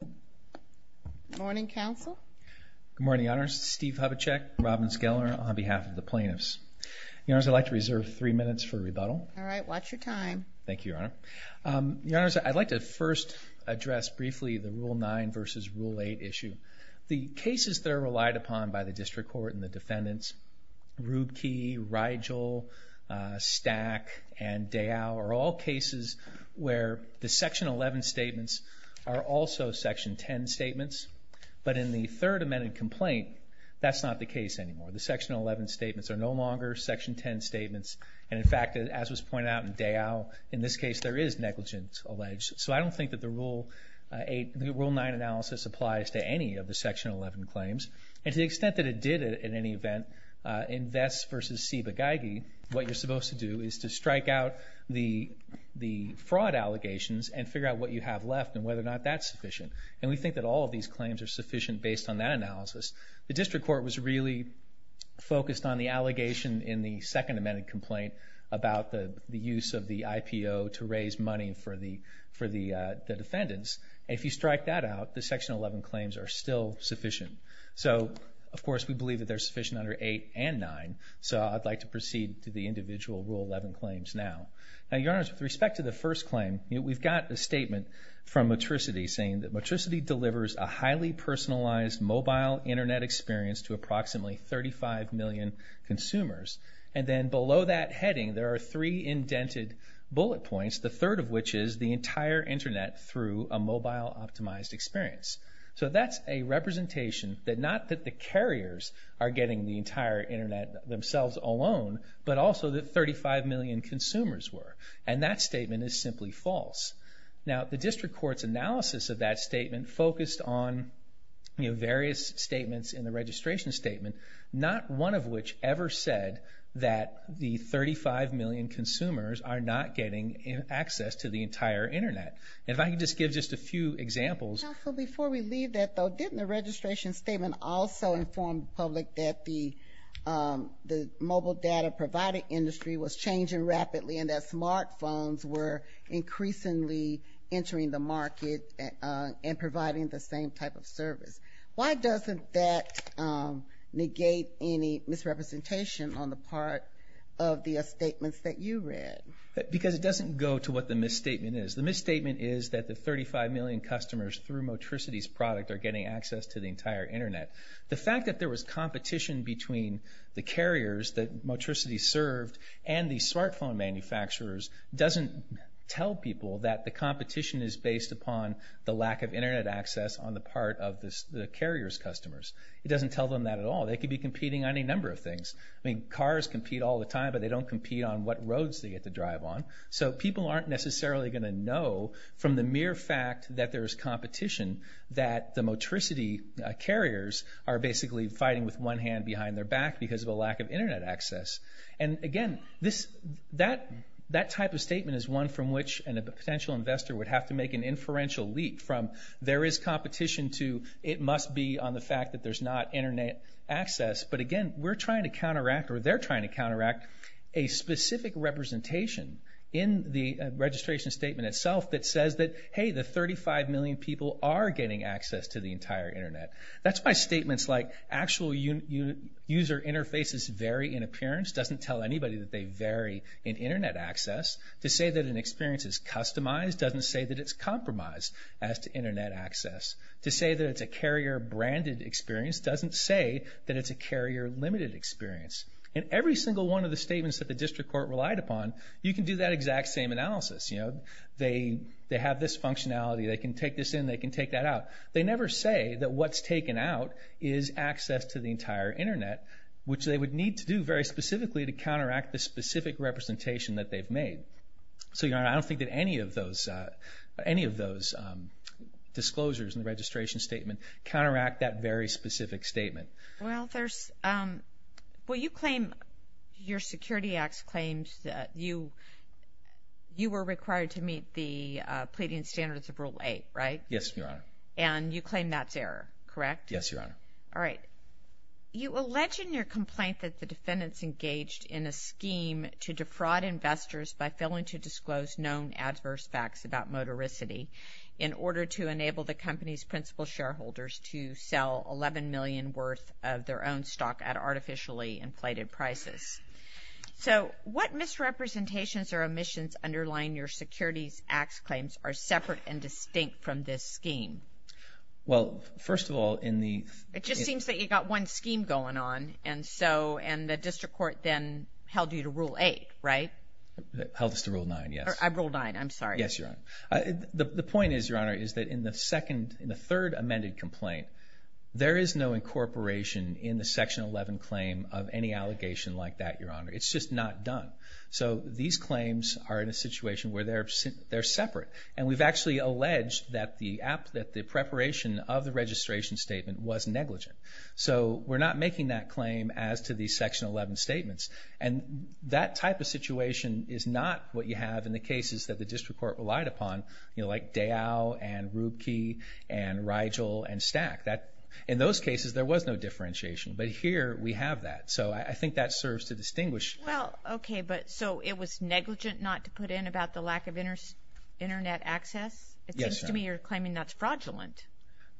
Good morning, Counsel. Good morning, Your Honors. Steve Hubachek, Robin Skeller, on behalf of the plaintiffs. Your Honors, I'd like to reserve three minutes for rebuttal. All right, watch your time. Thank you, Your Honor. Your Honors, I'd like to first address briefly the Rule 9 v. Rule 8 issue. The cases that are relied upon by the District Court and the defendants, Rubke, Rigel, Stack, and Dayal, are all cases where the Section 11 statements are also Section 10 statements. But in the third amended complaint, that's not the case anymore. The Section 11 statements are no longer Section 10 statements. And, in fact, as was pointed out in Dayal, in this case there is negligence alleged. So I don't think that the Rule 9 analysis applies to any of the Section 11 claims. And to the extent that it did, in any event, in Vest v. Siba-Geigy, what you're supposed to do is to strike out the fraud allegations and figure out what you have left and whether or not that's sufficient. And we think that all of these claims are sufficient based on that analysis. The District Court was really focused on the allegation in the second amended complaint about the use of the IPO to raise money for the defendants. If you strike that out, the Section 11 claims are still sufficient. So, of course, we believe that they're sufficient under 8 and 9. So I'd like to proceed to the individual Rule 11 claims now. Now, Your Honors, with respect to the first claim, we've got a statement from Matricity saying that Matricity delivers a highly personalized mobile Internet experience to approximately 35 million consumers. And then below that heading there are three indented bullet points, the third of which is the entire Internet through a mobile optimized experience. So that's a representation that not that the carriers are getting the entire Internet themselves alone, but also that 35 million consumers were. And that statement is simply false. Now, the District Court's analysis of that statement focused on various statements in the registration statement, not one of which ever said that the 35 million consumers are not getting access to the entire Internet. And if I could just give just a few examples. Counsel, before we leave that, though, didn't the registration statement also inform the public that the mobile data provider industry was changing rapidly and that smartphones were increasingly entering the market and providing the same type of service? Why doesn't that negate any misrepresentation on the part of the statements that you read? Because it doesn't go to what the misstatement is. The misstatement is that the 35 million customers through Matricity's product are getting access to the entire Internet. The fact that there was competition between the carriers that Matricity served and the smartphone manufacturers doesn't tell people that the competition is based upon the lack of Internet access on the part of the carrier's customers. It doesn't tell them that at all. They could be competing on any number of things. I mean, cars compete all the time, but they don't compete on what roads they get to drive on. So people aren't necessarily going to know from the mere fact that there's competition that the Matricity carriers are basically fighting with one hand behind their back because of a lack of Internet access. And again, that type of statement is one from which a potential investor would have to make an inferential leap from there is competition to it must be on the fact that there's not Internet access. But again, we're trying to counteract, or they're trying to counteract, a specific representation in the registration statement itself that says that, hey, the 35 million people are getting access to the entire Internet. That's why statements like actual user interfaces vary in appearance doesn't tell anybody that they vary in Internet access. To say that an experience is customized doesn't say that it's compromised as to Internet access. To say that it's a carrier-branded experience doesn't say that it's a carrier-limited experience. In every single one of the statements that the district court relied upon, you can do that exact same analysis. They have this functionality. They can take this in. They can take that out. They never say that what's taken out is access to the entire Internet, which they would need to do very specifically to counteract the specific representation that they've made. So, Your Honor, I don't think that any of those disclosures in the registration statement counteract that very specific statement. Well, you claim your security acts claimed that you were required to meet the pleading standards of Rule 8, right? Yes, Your Honor. Yes, Your Honor. All right. You allege in your complaint that the defendants engaged in a scheme to defraud investors by failing to disclose known adverse facts about motoricity in order to enable the company's principal shareholders to sell $11 million worth of their own stock at artificially inflated prices. So what misrepresentations or omissions underlying your securities acts claims are separate and distinct from this scheme? Well, first of all, in the... It just seems that you've got one scheme going on, and the district court then held you to Rule 8, right? Held us to Rule 9, yes. Rule 9, I'm sorry. Yes, Your Honor. The point is, Your Honor, is that in the third amended complaint, there is no incorporation in the Section 11 claim of any allegation like that, Your Honor. It's just not done. So these claims are in a situation where they're separate, and we've actually alleged that the preparation of the registration statement was negligent. So we're not making that claim as to the Section 11 statements. And that type of situation is not what you have in the cases that the district court relied upon, you know, like Dow and Rubke and Rigel and Stack. In those cases, there was no differentiation, but here we have that. So I think that serves to distinguish. Well, okay, but so it was negligent not to put in about the lack of Internet access? It seems to me you're claiming that's fraudulent.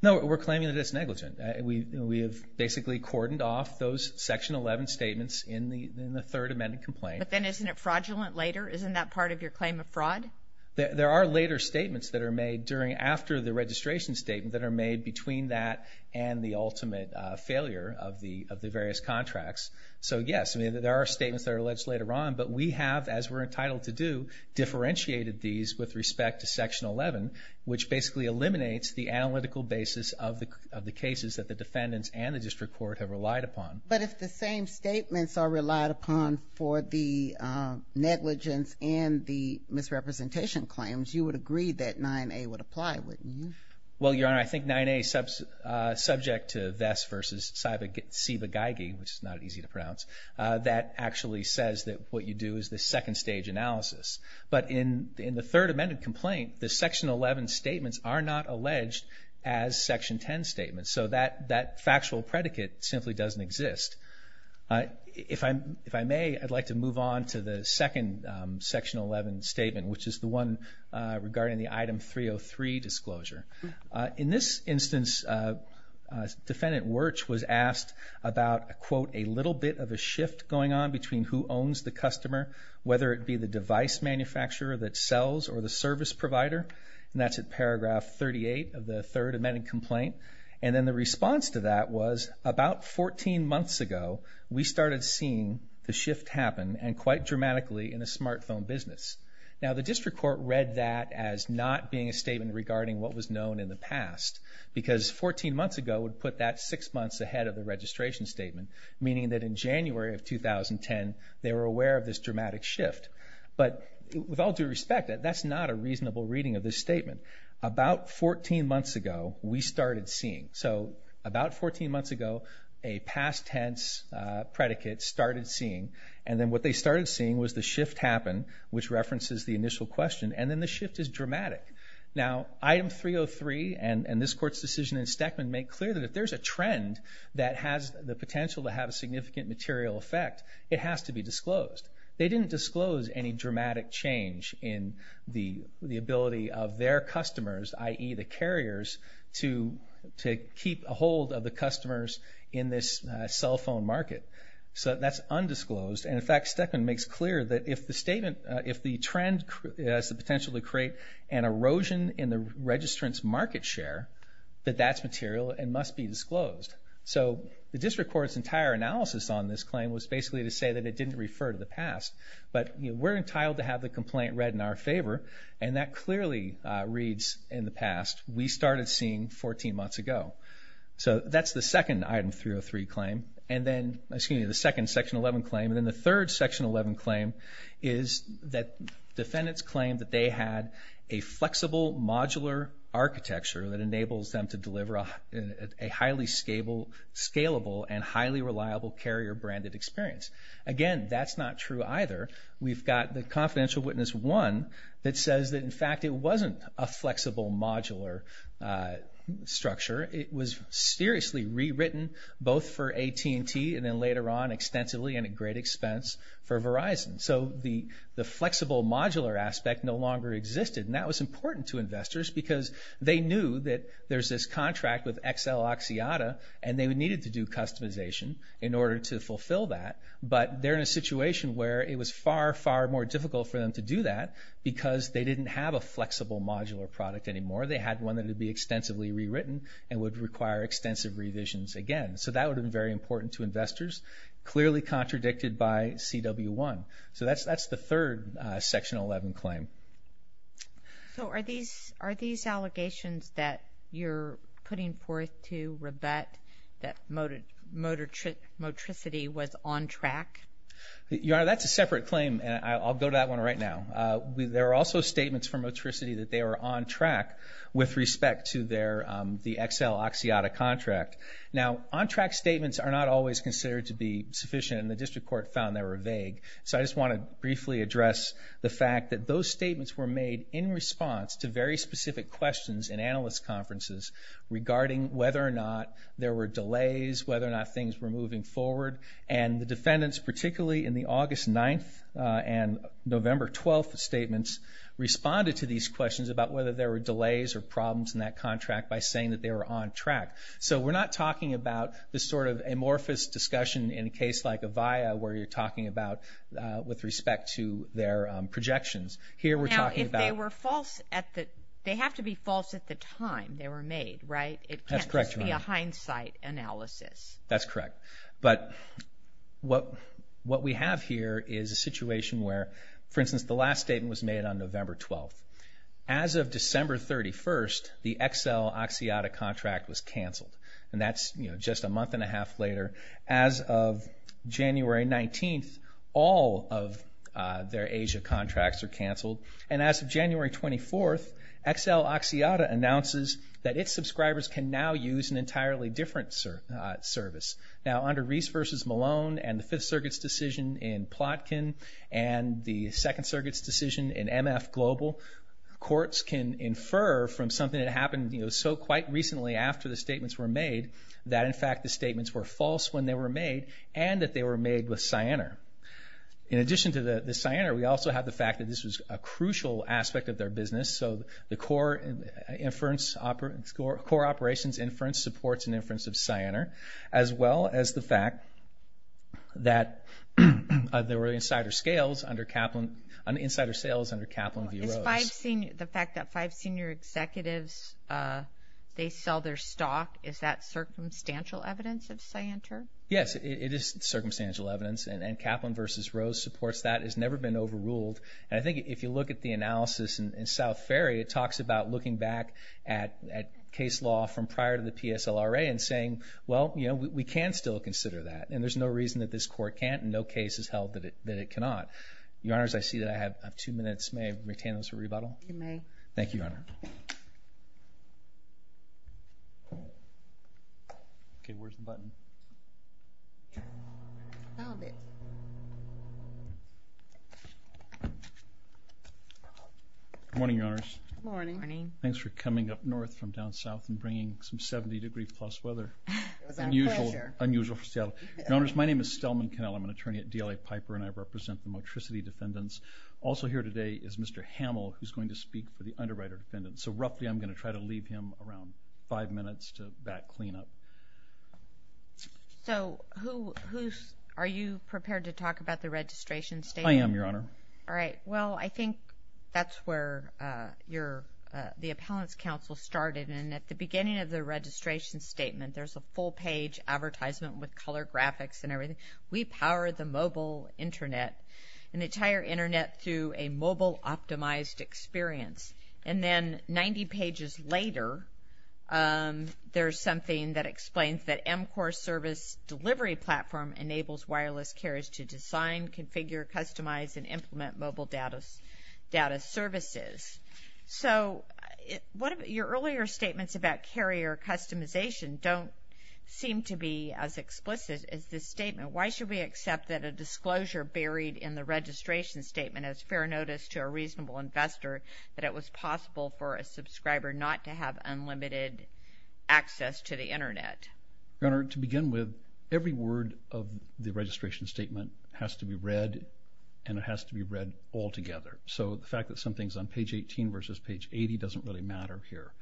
No, we're claiming that it's negligent. We have basically cordoned off those Section 11 statements in the third amended complaint. But then isn't it fraudulent later? Isn't that part of your claim of fraud? There are later statements that are made after the registration statement that are made between that and the ultimate failure of the various contracts. So, yes, there are statements that are alleged later on, but we have, as we're entitled to do, differentiated these with respect to Section 11, which basically eliminates the analytical basis of the cases that the defendants and the district court have relied upon. But if the same statements are relied upon for the negligence and the misrepresentation claims, you would agree that 9A would apply, wouldn't you? Well, Your Honor, I think 9A, subject to Vess v. Siba-Geigy, which is not easy to pronounce, that actually says that what you do is the second stage analysis. But in the third amended complaint, the Section 11 statements are not alleged as Section 10 statements. So that factual predicate simply doesn't exist. If I may, I'd like to move on to the second Section 11 statement, which is the one regarding the Item 303 disclosure. In this instance, Defendant Wirch was asked about, quote, a little bit of a shift going on between who owns the customer, whether it be the device manufacturer that sells or the service provider, and that's at paragraph 38 of the third amended complaint. And then the response to that was, about 14 months ago, we started seeing the shift happen, and quite dramatically, in a smartphone business. Now, the district court read that as not being a statement regarding what was known in the past, because 14 months ago would put that six months ahead of the registration statement, meaning that in January of 2010, they were aware of this dramatic shift. But with all due respect, that's not a reasonable reading of this statement. About 14 months ago, we started seeing. So about 14 months ago, a past tense predicate started seeing, and then what they started seeing was the shift happen, which references the initial question, and then the shift is dramatic. Now, Item 303 and this court's decision in Stackman make clear that if there's a trend that has the potential to have a significant material effect, it has to be disclosed. They didn't disclose any dramatic change in the ability of their customers, i.e., the carriers, to keep a hold of the customers in this cell phone market. So that's undisclosed, and, in fact, Stackman makes clear that if the statement, if the trend has the potential to create an erosion in the registrant's market share, that that's material and must be disclosed. So the district court's entire analysis on this claim was basically to say that it didn't refer to the past. But we're entitled to have the complaint read in our favor, and that clearly reads in the past, we started seeing 14 months ago. So that's the second Item 303 claim, and then, excuse me, the second Section 11 claim, and then the third Section 11 claim is that defendants claim that they had a flexible, modular architecture that enables them to deliver a highly scalable and highly reliable carrier-branded experience. Again, that's not true either. We've got the confidential witness one that says that, in fact, it wasn't a flexible, modular structure. It was seriously rewritten both for AT&T and then later on extensively and at great expense for Verizon. So the flexible, modular aspect no longer existed, and that was important to investors because they knew that there's this contract with XL Oxiata, and they needed to do customization in order to fulfill that. But they're in a situation where it was far, far more difficult for them to do that because they didn't have a flexible, modular product anymore. They had one that would be extensively rewritten and would require extensive revisions again. So that would have been very important to investors, clearly contradicted by CW1. So that's the third Section 11 claim. So are these allegations that you're putting forth to rebut that motricity was on track? Your Honor, that's a separate claim, and I'll go to that one right now. There are also statements from motricity that they were on track with respect to the XL Oxiata contract. Now, on-track statements are not always considered to be sufficient, and the District Court found they were vague. So I just want to briefly address the fact that those statements were made in response to very specific questions in analyst conferences regarding whether or not there were delays, whether or not things were moving forward, and the defendants, particularly in the August 9th and November 12th statements, responded to these questions about whether there were delays or problems in that contract by saying that they were on track. So we're not talking about this sort of amorphous discussion in a case like Avaya where you're talking about with respect to their projections. Now, if they were false at the – they have to be false at the time they were made, right? That's correct, Your Honor. It can't just be a hindsight analysis. That's correct. But what we have here is a situation where, for instance, the last statement was made on November 12th. As of December 31st, the XL Oxiata contract was canceled, and that's just a month and a half later. As of January 19th, all of their Asia contracts are canceled, and as of January 24th, XL Oxiata announces that its subscribers can now use an entirely different service. Now, under Reese v. Malone and the Fifth Circuit's decision in Plotkin and the Second Circuit's decision in MF Global, courts can infer from something that happened, you know, so quite recently after the statements were made that, in fact, the statements were false when they were made and that they were made with Cyanar. In addition to the Cyanar, we also have the fact that this was a crucial aspect of their business. So the core operations inference supports an inference of Cyanar, as well as the fact that there were insider sales under Kaplan v. Rose. The fact that five senior executives, they sell their stock, is that circumstantial evidence of Cyanar? Yes, it is circumstantial evidence, and Kaplan v. Rose supports that. It's never been overruled. And I think if you look at the analysis in South Ferry, it talks about looking back at case law from prior to the PSLRA and saying, well, you know, we can still consider that, and there's no reason that this court can't and no case has held that it cannot. Your Honors, I see that I have two minutes. May I retain those for rebuttal? You may. Thank you, Your Honor. Okay, where's the button? Found it. Good morning, Your Honors. Good morning. Thanks for coming up north from down south and bringing some 70 degree plus weather. It was our pleasure. Unusual for Seattle. Your Honors, my name is Stelman Cannell. I'm an attorney at DLA Piper, and I represent the motricity defendants. Also here today is Mr. Hamill, who's going to speak for the underwriter defendants. So roughly I'm going to try to leave him around five minutes to back clean up. So are you prepared to talk about the registration statement? I am, Your Honor. All right. Well, I think that's where the appellant's counsel started, and at the beginning of the registration statement, there's a full page advertisement with color graphics and everything. We power the mobile Internet, an entire Internet through a mobile optimized experience, and then 90 pages later, there's something that explains that MCOR service delivery platform enables wireless carriers to design, configure, customize, and implement mobile data services. So your earlier statements about carrier customization don't seem to be as explicit as this statement. Why should we accept that a disclosure buried in the registration statement is fair notice to a reasonable investor that it was possible for a subscriber not to have unlimited access to the Internet? Your Honor, to begin with, every word of the registration statement has to be read, and it has to be read altogether. So the fact that something's on page 18 versus page 80 doesn't really matter here.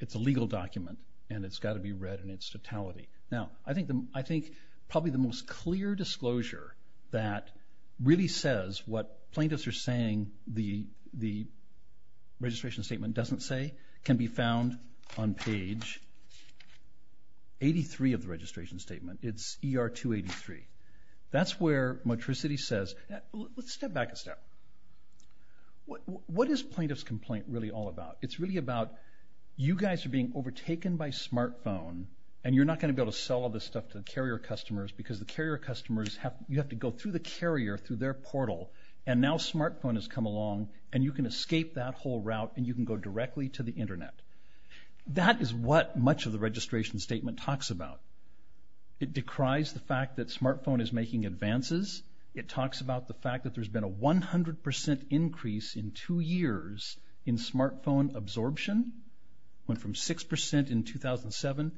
It's a legal document, and it's got to be read in its totality. Now, I think probably the most clear disclosure that really says what plaintiffs are saying the registration statement doesn't say can be found on page 83 of the registration statement. It's ER 283. That's where Motricity says, let's step back a step. What is plaintiff's complaint really all about? It's really about you guys are being overtaken by smartphone, and you're not going to be able to sell all this stuff to the carrier customers because the carrier customers have to go through the carrier through their portal, and now smartphone has come along, and you can escape that whole route, and you can go directly to the Internet. That is what much of the registration statement talks about. It decries the fact that smartphone is making advances. It talks about the fact that there's been a 100% increase in two years in smartphone absorption. It went from 6% in 2007,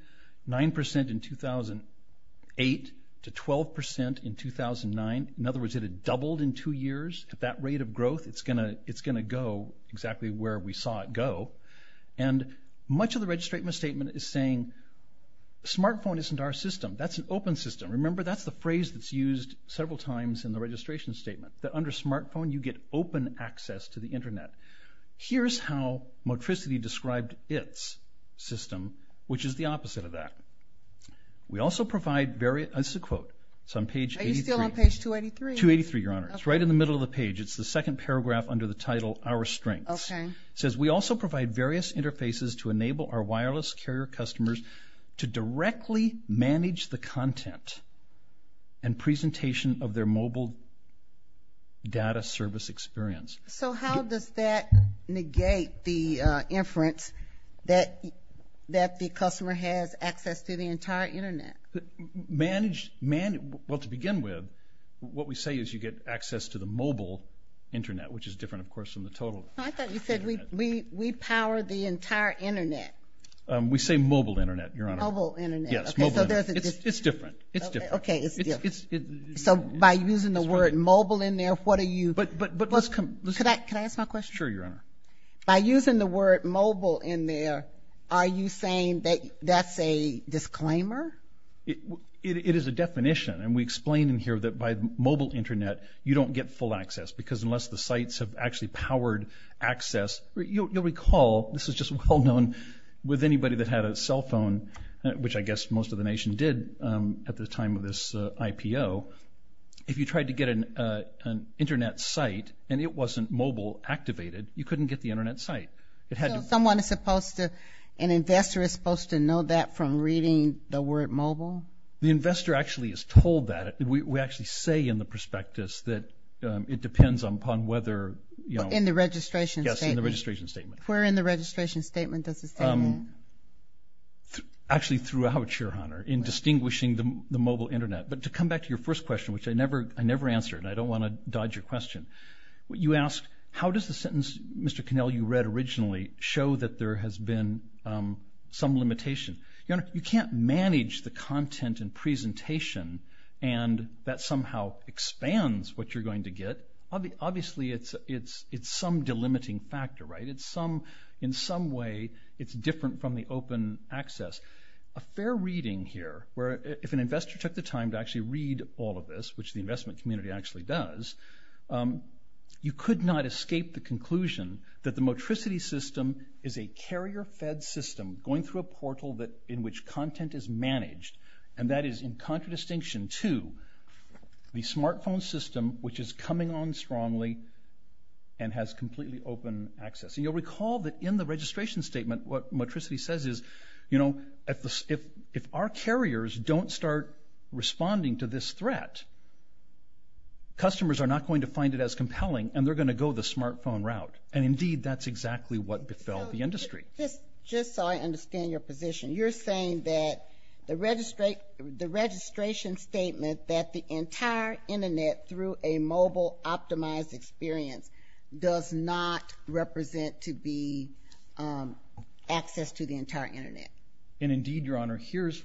9% in 2008, to 12% in 2009. In other words, it had doubled in two years. At that rate of growth, it's going to go exactly where we saw it go. And much of the registration statement is saying smartphone isn't our system. That's an open system. Remember, that's the phrase that's used several times in the registration statement, that under smartphone you get open access to the Internet. Here's how Motricity described its system, which is the opposite of that. We also provide various, this is a quote. It's on page 83. Are you still on page 283? 283, Your Honor. It's right in the middle of the page. It's the second paragraph under the title, Our Strengths. Okay. It says, we also provide various interfaces to enable our wireless carrier customers to directly manage the content and presentation of their mobile data service experience. So how does that negate the inference that the customer has access to the entire Internet? Well, to begin with, what we say is you get access to the mobile Internet, which is different, of course, from the total Internet. I thought you said we power the entire Internet. We say mobile Internet, Your Honor. Mobile Internet. Yes, mobile Internet. It's different. It's different. Okay, it's different. So by using the word mobile in there, what are you? But let's come. Could I ask my question? Sure, Your Honor. By using the word mobile in there, are you saying that that's a disclaimer? It is a definition, and we explain in here that by mobile Internet you don't get full access because unless the sites have actually powered access, you'll recall, this is just well known with anybody that had a cell phone, which I guess most of the nation did at the time of this IPO, if you tried to get an Internet site and it wasn't mobile activated, you couldn't get the Internet site. So someone is supposed to, an investor is supposed to know that from reading the word mobile? The investor actually is told that. We actually say in the prospectus that it depends upon whether, you know. In the registration statement. Yes, in the registration statement. Where in the registration statement does it say that? Actually throughout, Your Honor, in distinguishing the mobile Internet. But to come back to your first question, which I never answered, and I don't want to dodge your question, you asked how does the sentence, Mr. Connell, you read originally, show that there has been some limitation? Your Honor, you can't manage the content and presentation and that somehow expands what you're going to get. Obviously it's some delimiting factor, right? In some way it's different from the open access. A fair reading here, where if an investor took the time to actually read all of this, which the investment community actually does, you could not escape the conclusion that the Motricity system is a carrier-fed system going through a portal in which content is managed. And that is in contradistinction to the smartphone system, which is coming on strongly and has completely open access. And you'll recall that in the registration statement, what Motricity says is if our carriers don't start responding to this threat, customers are not going to find it as compelling, and they're going to go the smartphone route. And indeed, that's exactly what befell the industry. Just so I understand your position, you're saying that the registration statement that the entire Internet, through a mobile optimized experience, does not represent to be access to the entire Internet. And indeed, Your Honor, here's...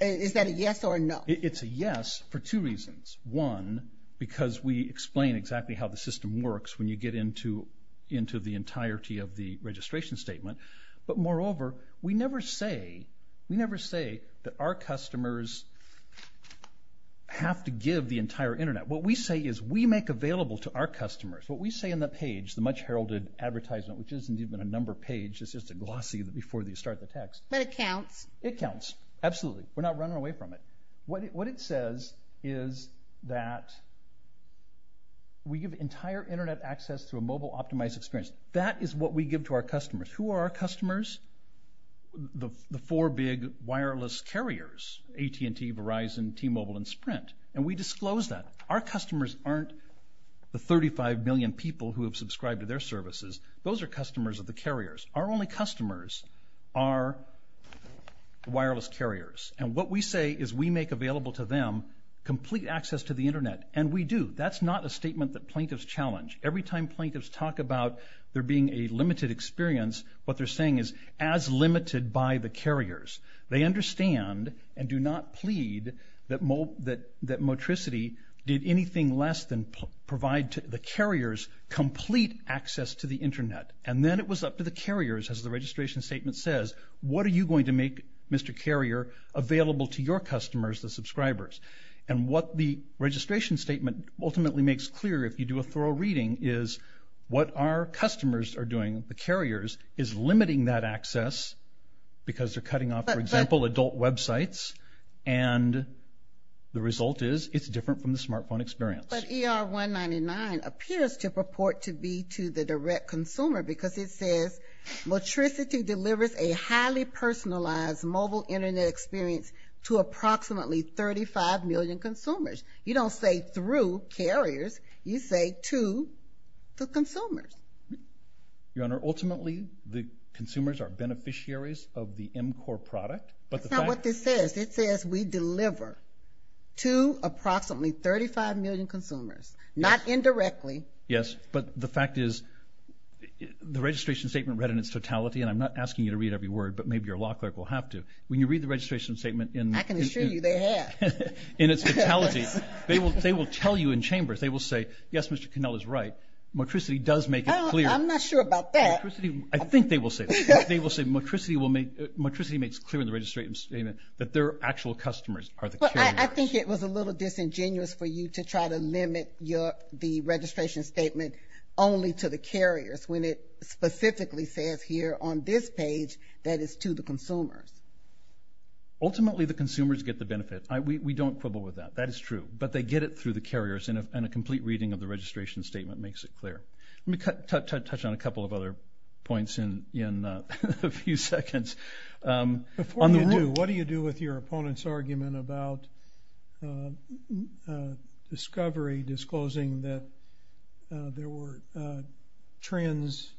Is that a yes or a no? It's a yes for two reasons. One, because we explain exactly how the system works when you get into the entirety of the registration statement. But moreover, we never say that our customers have to give the entire Internet. What we say is we make available to our customers, what we say in the page, the much heralded advertisement, which isn't even a number page, it's just a glossy before you start the text. But it counts. It counts, absolutely. We're not running away from it. What it says is that we give entire Internet access through a mobile optimized experience. That is what we give to our customers. Who are our customers? The four big wireless carriers, AT&T, Verizon, T-Mobile, and Sprint. And we disclose that. Our customers aren't the 35 million people who have subscribed to their services. Those are customers of the carriers. Our only customers are wireless carriers. And what we say is we make available to them complete access to the Internet. And we do. That's not a statement that plaintiffs challenge. Every time plaintiffs talk about there being a limited experience, what they're saying is as limited by the carriers. They understand and do not plead that Motricity did anything less than provide the carriers complete access to the Internet. And then it was up to the carriers, as the registration statement says, what are you going to make, Mr. Carrier, available to your customers, the subscribers? And what the registration statement ultimately makes clear, if you do a thorough reading, is what our customers are doing, the carriers, is limiting that access because they're cutting off, for example, adult websites. And the result is it's different from the smartphone experience. But ER 199 appears to purport to be to the direct consumer because it says, Motricity delivers a highly personalized mobile Internet experience to approximately 35 million consumers. You don't say through carriers. You say to the consumers. Your Honor, ultimately the consumers are beneficiaries of the mCore product. That's not what this says. It says we deliver to approximately 35 million consumers, not indirectly. Yes, but the fact is the registration statement read in its totality, and I'm not asking you to read every word, but maybe your law clerk will have to. When you read the registration statement in its totality, they will tell you in chambers. They will say, yes, Mr. Connell is right. Motricity does make it clear. I'm not sure about that. I think they will say that. They will say Motricity makes clear in the registration statement that their actual customers are the carriers. I think it was a little disingenuous for you to try to limit the registration statement only to the carriers when it specifically says here on this page that it's to the consumers. Ultimately the consumers get the benefit. We don't quibble with that. That is true. But they get it through the carriers, and a complete reading of the registration statement makes it clear. Let me touch on a couple of other points in a few seconds. Before you do, what do you do with your opponent's argument about discovery, disclosing that there were trends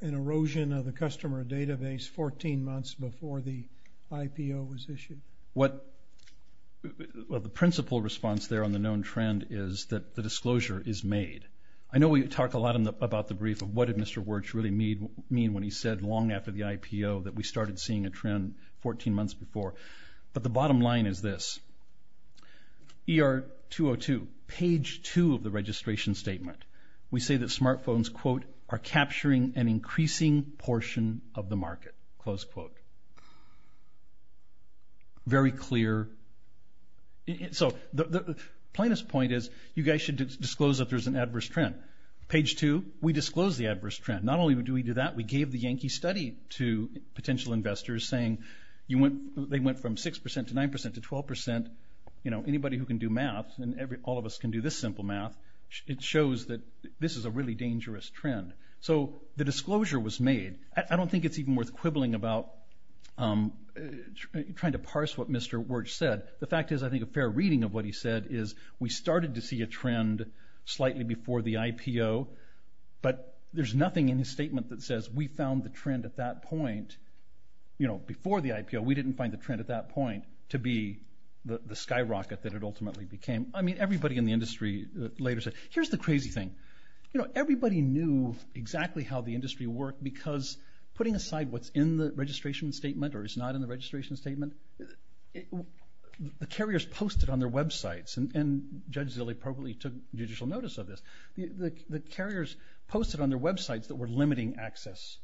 and erosion of the customer database 14 months before the IPO was issued? Well, the principal response there on the known trend is that the disclosure is made. I know we talk a lot about the brief of what did Mr. Wirtz really mean when he said, long after the IPO, that we started seeing a trend 14 months before. But the bottom line is this. ER202, page 2 of the registration statement, we say that smartphones, quote, are capturing an increasing portion of the market, close quote. Very clear. So the plainest point is you guys should disclose that there's an adverse trend. Page 2, we disclose the adverse trend. Not only do we do that, we gave the Yankee study to potential investors, saying they went from 6% to 9% to 12%. Anybody who can do math, and all of us can do this simple math, it shows that this is a really dangerous trend. So the disclosure was made. I don't think it's even worth quibbling about trying to parse what Mr. Wirtz said. The fact is I think a fair reading of what he said is we started to see a trend slightly before the IPO, but there's nothing in his statement that says we found the trend at that point. You know, before the IPO, we didn't find the trend at that point to be the skyrocket that it ultimately became. I mean, everybody in the industry later said, here's the crazy thing. You know, everybody knew exactly how the industry worked because putting aside what's in the registration statement or is not in the registration statement, the carriers posted on their websites, and Judge Zilley probably took judicial notice of this, the carriers posted on their websites that were limiting access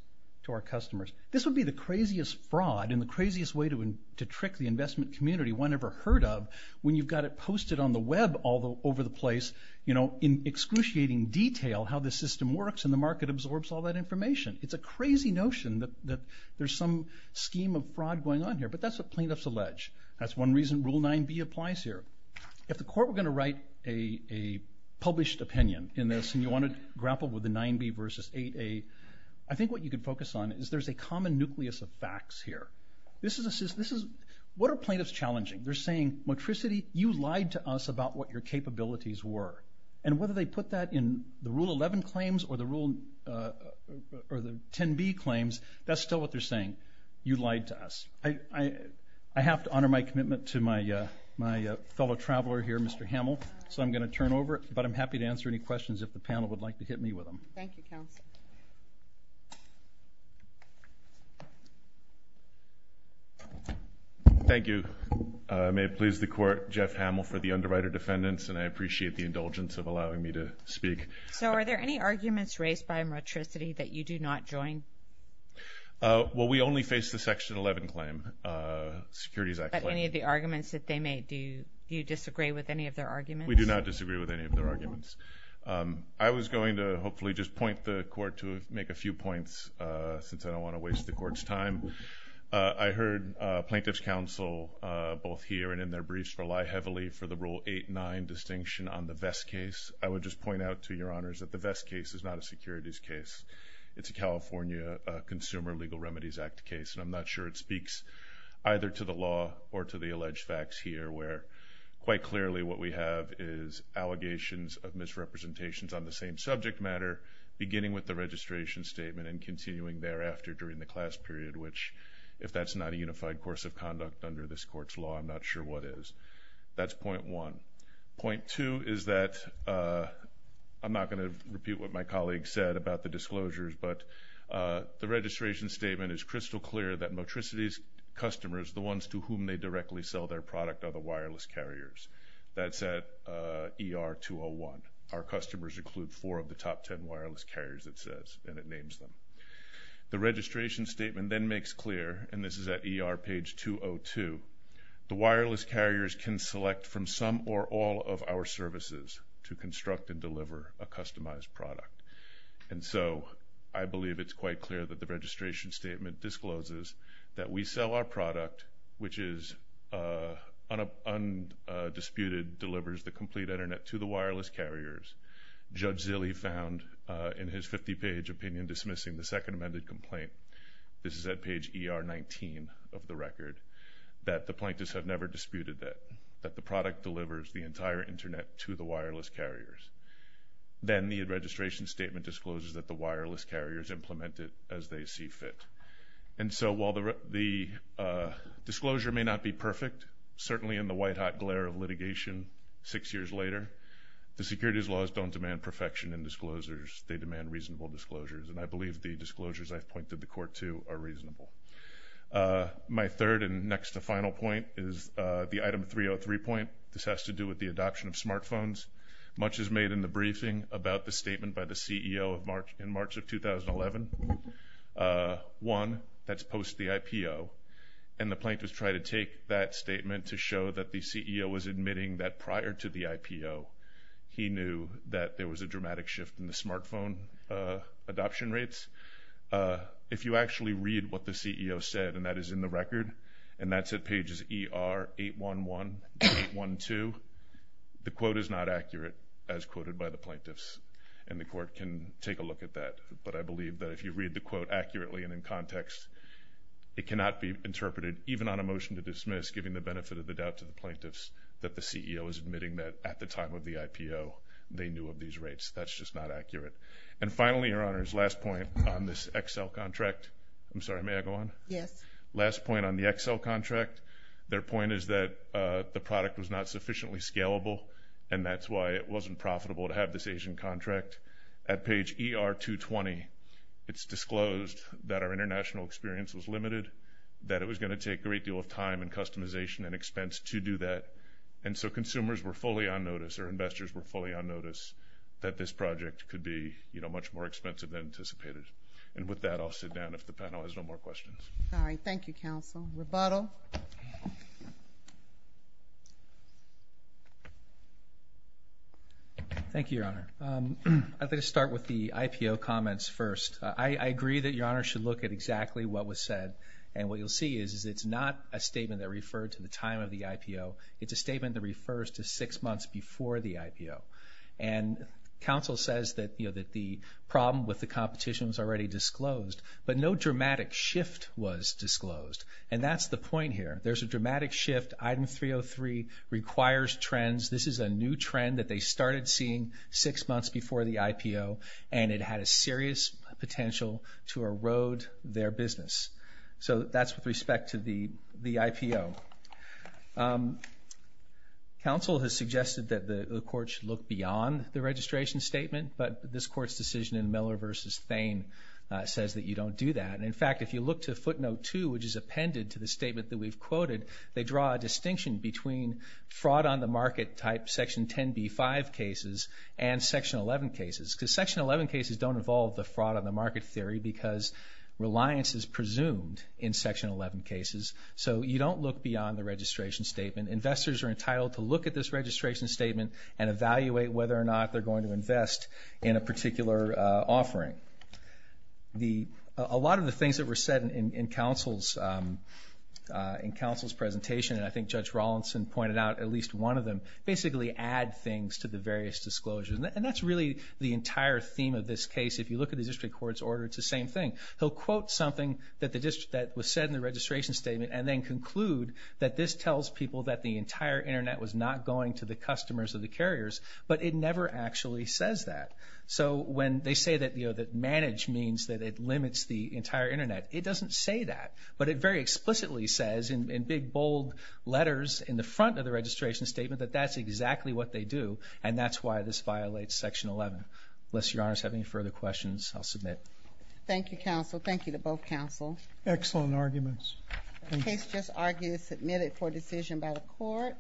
to our customers. This would be the craziest fraud and the craziest way to trick the investment community one ever heard of when you've got it posted on the web all over the place in excruciating detail how the system works and the market absorbs all that information. It's a crazy notion that there's some scheme of fraud going on here, but that's what plaintiffs allege. That's one reason Rule 9b applies here. If the court were going to write a published opinion in this and you want to grapple with the 9b versus 8a, I think what you could focus on is there's a common nucleus of facts here. What are plaintiffs challenging? They're saying, Motricity, you lied to us about what your capabilities were. And whether they put that in the Rule 11 claims or the 10b claims, that's still what they're saying. You lied to us. I have to honor my commitment to my fellow traveler here, Mr. Hamill, so I'm going to turn over, but I'm happy to answer any questions if the panel would like to hit me with them. Thank you, counsel. Thank you. May it please the court, Jeff Hamill for the underwriter defendants, and I appreciate the indulgence of allowing me to speak. So are there any arguments raised by Motricity that you do not join? Well, we only face the Section 11 claim, Securities Act claim. But any of the arguments that they made, do you disagree with any of their arguments? We do not disagree with any of their arguments. I was going to hopefully just point the court to make a few points since I don't want to waste the court's time. I heard plaintiffs' counsel, both here and in their briefs, rely heavily for the Rule 8-9 distinction on the Vest case. I would just point out to your honors that the Vest case is not a securities case. It's a California Consumer Legal Remedies Act case, and I'm not sure it speaks either to the law or to the alleged facts here where quite clearly what we have is allegations of misrepresentations on the same subject matter, beginning with the registration statement and continuing thereafter during the class period, which if that's not a unified course of conduct under this court's law, I'm not sure what is. That's point one. Point two is that I'm not going to repeat what my colleague said about the disclosures, but the registration statement is crystal clear that Motricity's customers, the ones to whom they directly sell their product are the wireless carriers. That's at ER 201. Our customers include four of the top ten wireless carriers, it says, and it names them. The registration statement then makes clear, and this is at ER page 202, the wireless carriers can select from some or all of our services to construct and deliver a customized product. And so I believe it's quite clear that the registration statement discloses that we sell our product which is undisputed, delivers the complete Internet to the wireless carriers. Judge Zille found in his 50-page opinion dismissing the second amended complaint, this is at page ER 19 of the record, that the plaintiffs have never disputed that the product delivers the entire Internet to the wireless carriers. Then the registration statement discloses that the wireless carriers implement it as they see fit. And so while the disclosure may not be perfect, certainly in the white-hot glare of litigation six years later, the securities laws don't demand perfection in disclosures, they demand reasonable disclosures, and I believe the disclosures I've pointed the court to are reasonable. My third and next to final point is the item 303 point. This has to do with the adoption of smartphones. Much is made in the briefing about the statement by the CEO in March of 2011. One, that's post the IPO. And the plaintiffs try to take that statement to show that the CEO was admitting that prior to the IPO, he knew that there was a dramatic shift in the smartphone adoption rates. If you actually read what the CEO said, and that is in the record, and that's at pages ER 811 and 812, the quote is not accurate as quoted by the plaintiffs, and the court can take a look at that. But I believe that if you read the quote accurately and in context, it cannot be interpreted even on a motion to dismiss, giving the benefit of the doubt to the plaintiffs that the CEO is admitting that at the time of the IPO, they knew of these rates. That's just not accurate. And finally, Your Honors, last point on this Excel contract. I'm sorry, may I go on? Yes. Last point on the Excel contract. Their point is that the product was not sufficiently scalable, and that's why it wasn't profitable to have this Asian contract. At page ER 220, it's disclosed that our international experience was limited, that it was going to take a great deal of time and customization and expense to do that, and so consumers were fully on notice, or investors were fully on notice, that this project could be, you know, much more expensive than anticipated. And with that, I'll sit down if the panel has no more questions. All right. Thank you, counsel. Rebuttal. Thank you, Your Honor. I'd like to start with the IPO comments first. I agree that Your Honor should look at exactly what was said, and what you'll see is it's not a statement that referred to the time of the IPO. It's a statement that refers to six months before the IPO. And counsel says that, you know, that the problem with the competition was already disclosed, but no dramatic shift was disclosed. And that's the point here. There's a dramatic shift. Item 303 requires trends. This is a new trend that they started seeing six months before the IPO, and it had a serious potential to erode their business. So that's with respect to the IPO. Counsel has suggested that the court should look beyond the registration statement, but this court's decision in Miller v. Thain says that you don't do that. And, in fact, if you look to footnote 2, which is appended to the statement that we've quoted, they draw a distinction between fraud on the market type, Section 10b-5 cases, and Section 11 cases. Because Section 11 cases don't involve the fraud on the market theory because reliance is presumed in Section 11 cases. So you don't look beyond the registration statement. Investors are entitled to look at this registration statement and evaluate whether or not they're going to invest in a particular offering. A lot of the things that were said in counsel's presentation, and I think Judge Rawlinson pointed out at least one of them, basically add things to the various disclosures. And that's really the entire theme of this case. If you look at the district court's order, it's the same thing. He'll quote something that was said in the registration statement and then conclude that this tells people that the entire Internet was not going to the customers or the carriers, but it never actually says that. So when they say that manage means that it limits the entire Internet, it doesn't say that, but it very explicitly says in big, bold letters in the front of the registration statement that that's exactly what they do, and that's why this violates Section 11. Unless Your Honors have any further questions, I'll submit. Thank you, counsel. Thank you to both counsels. Excellent arguments. The case just argued is submitted for decision by the court.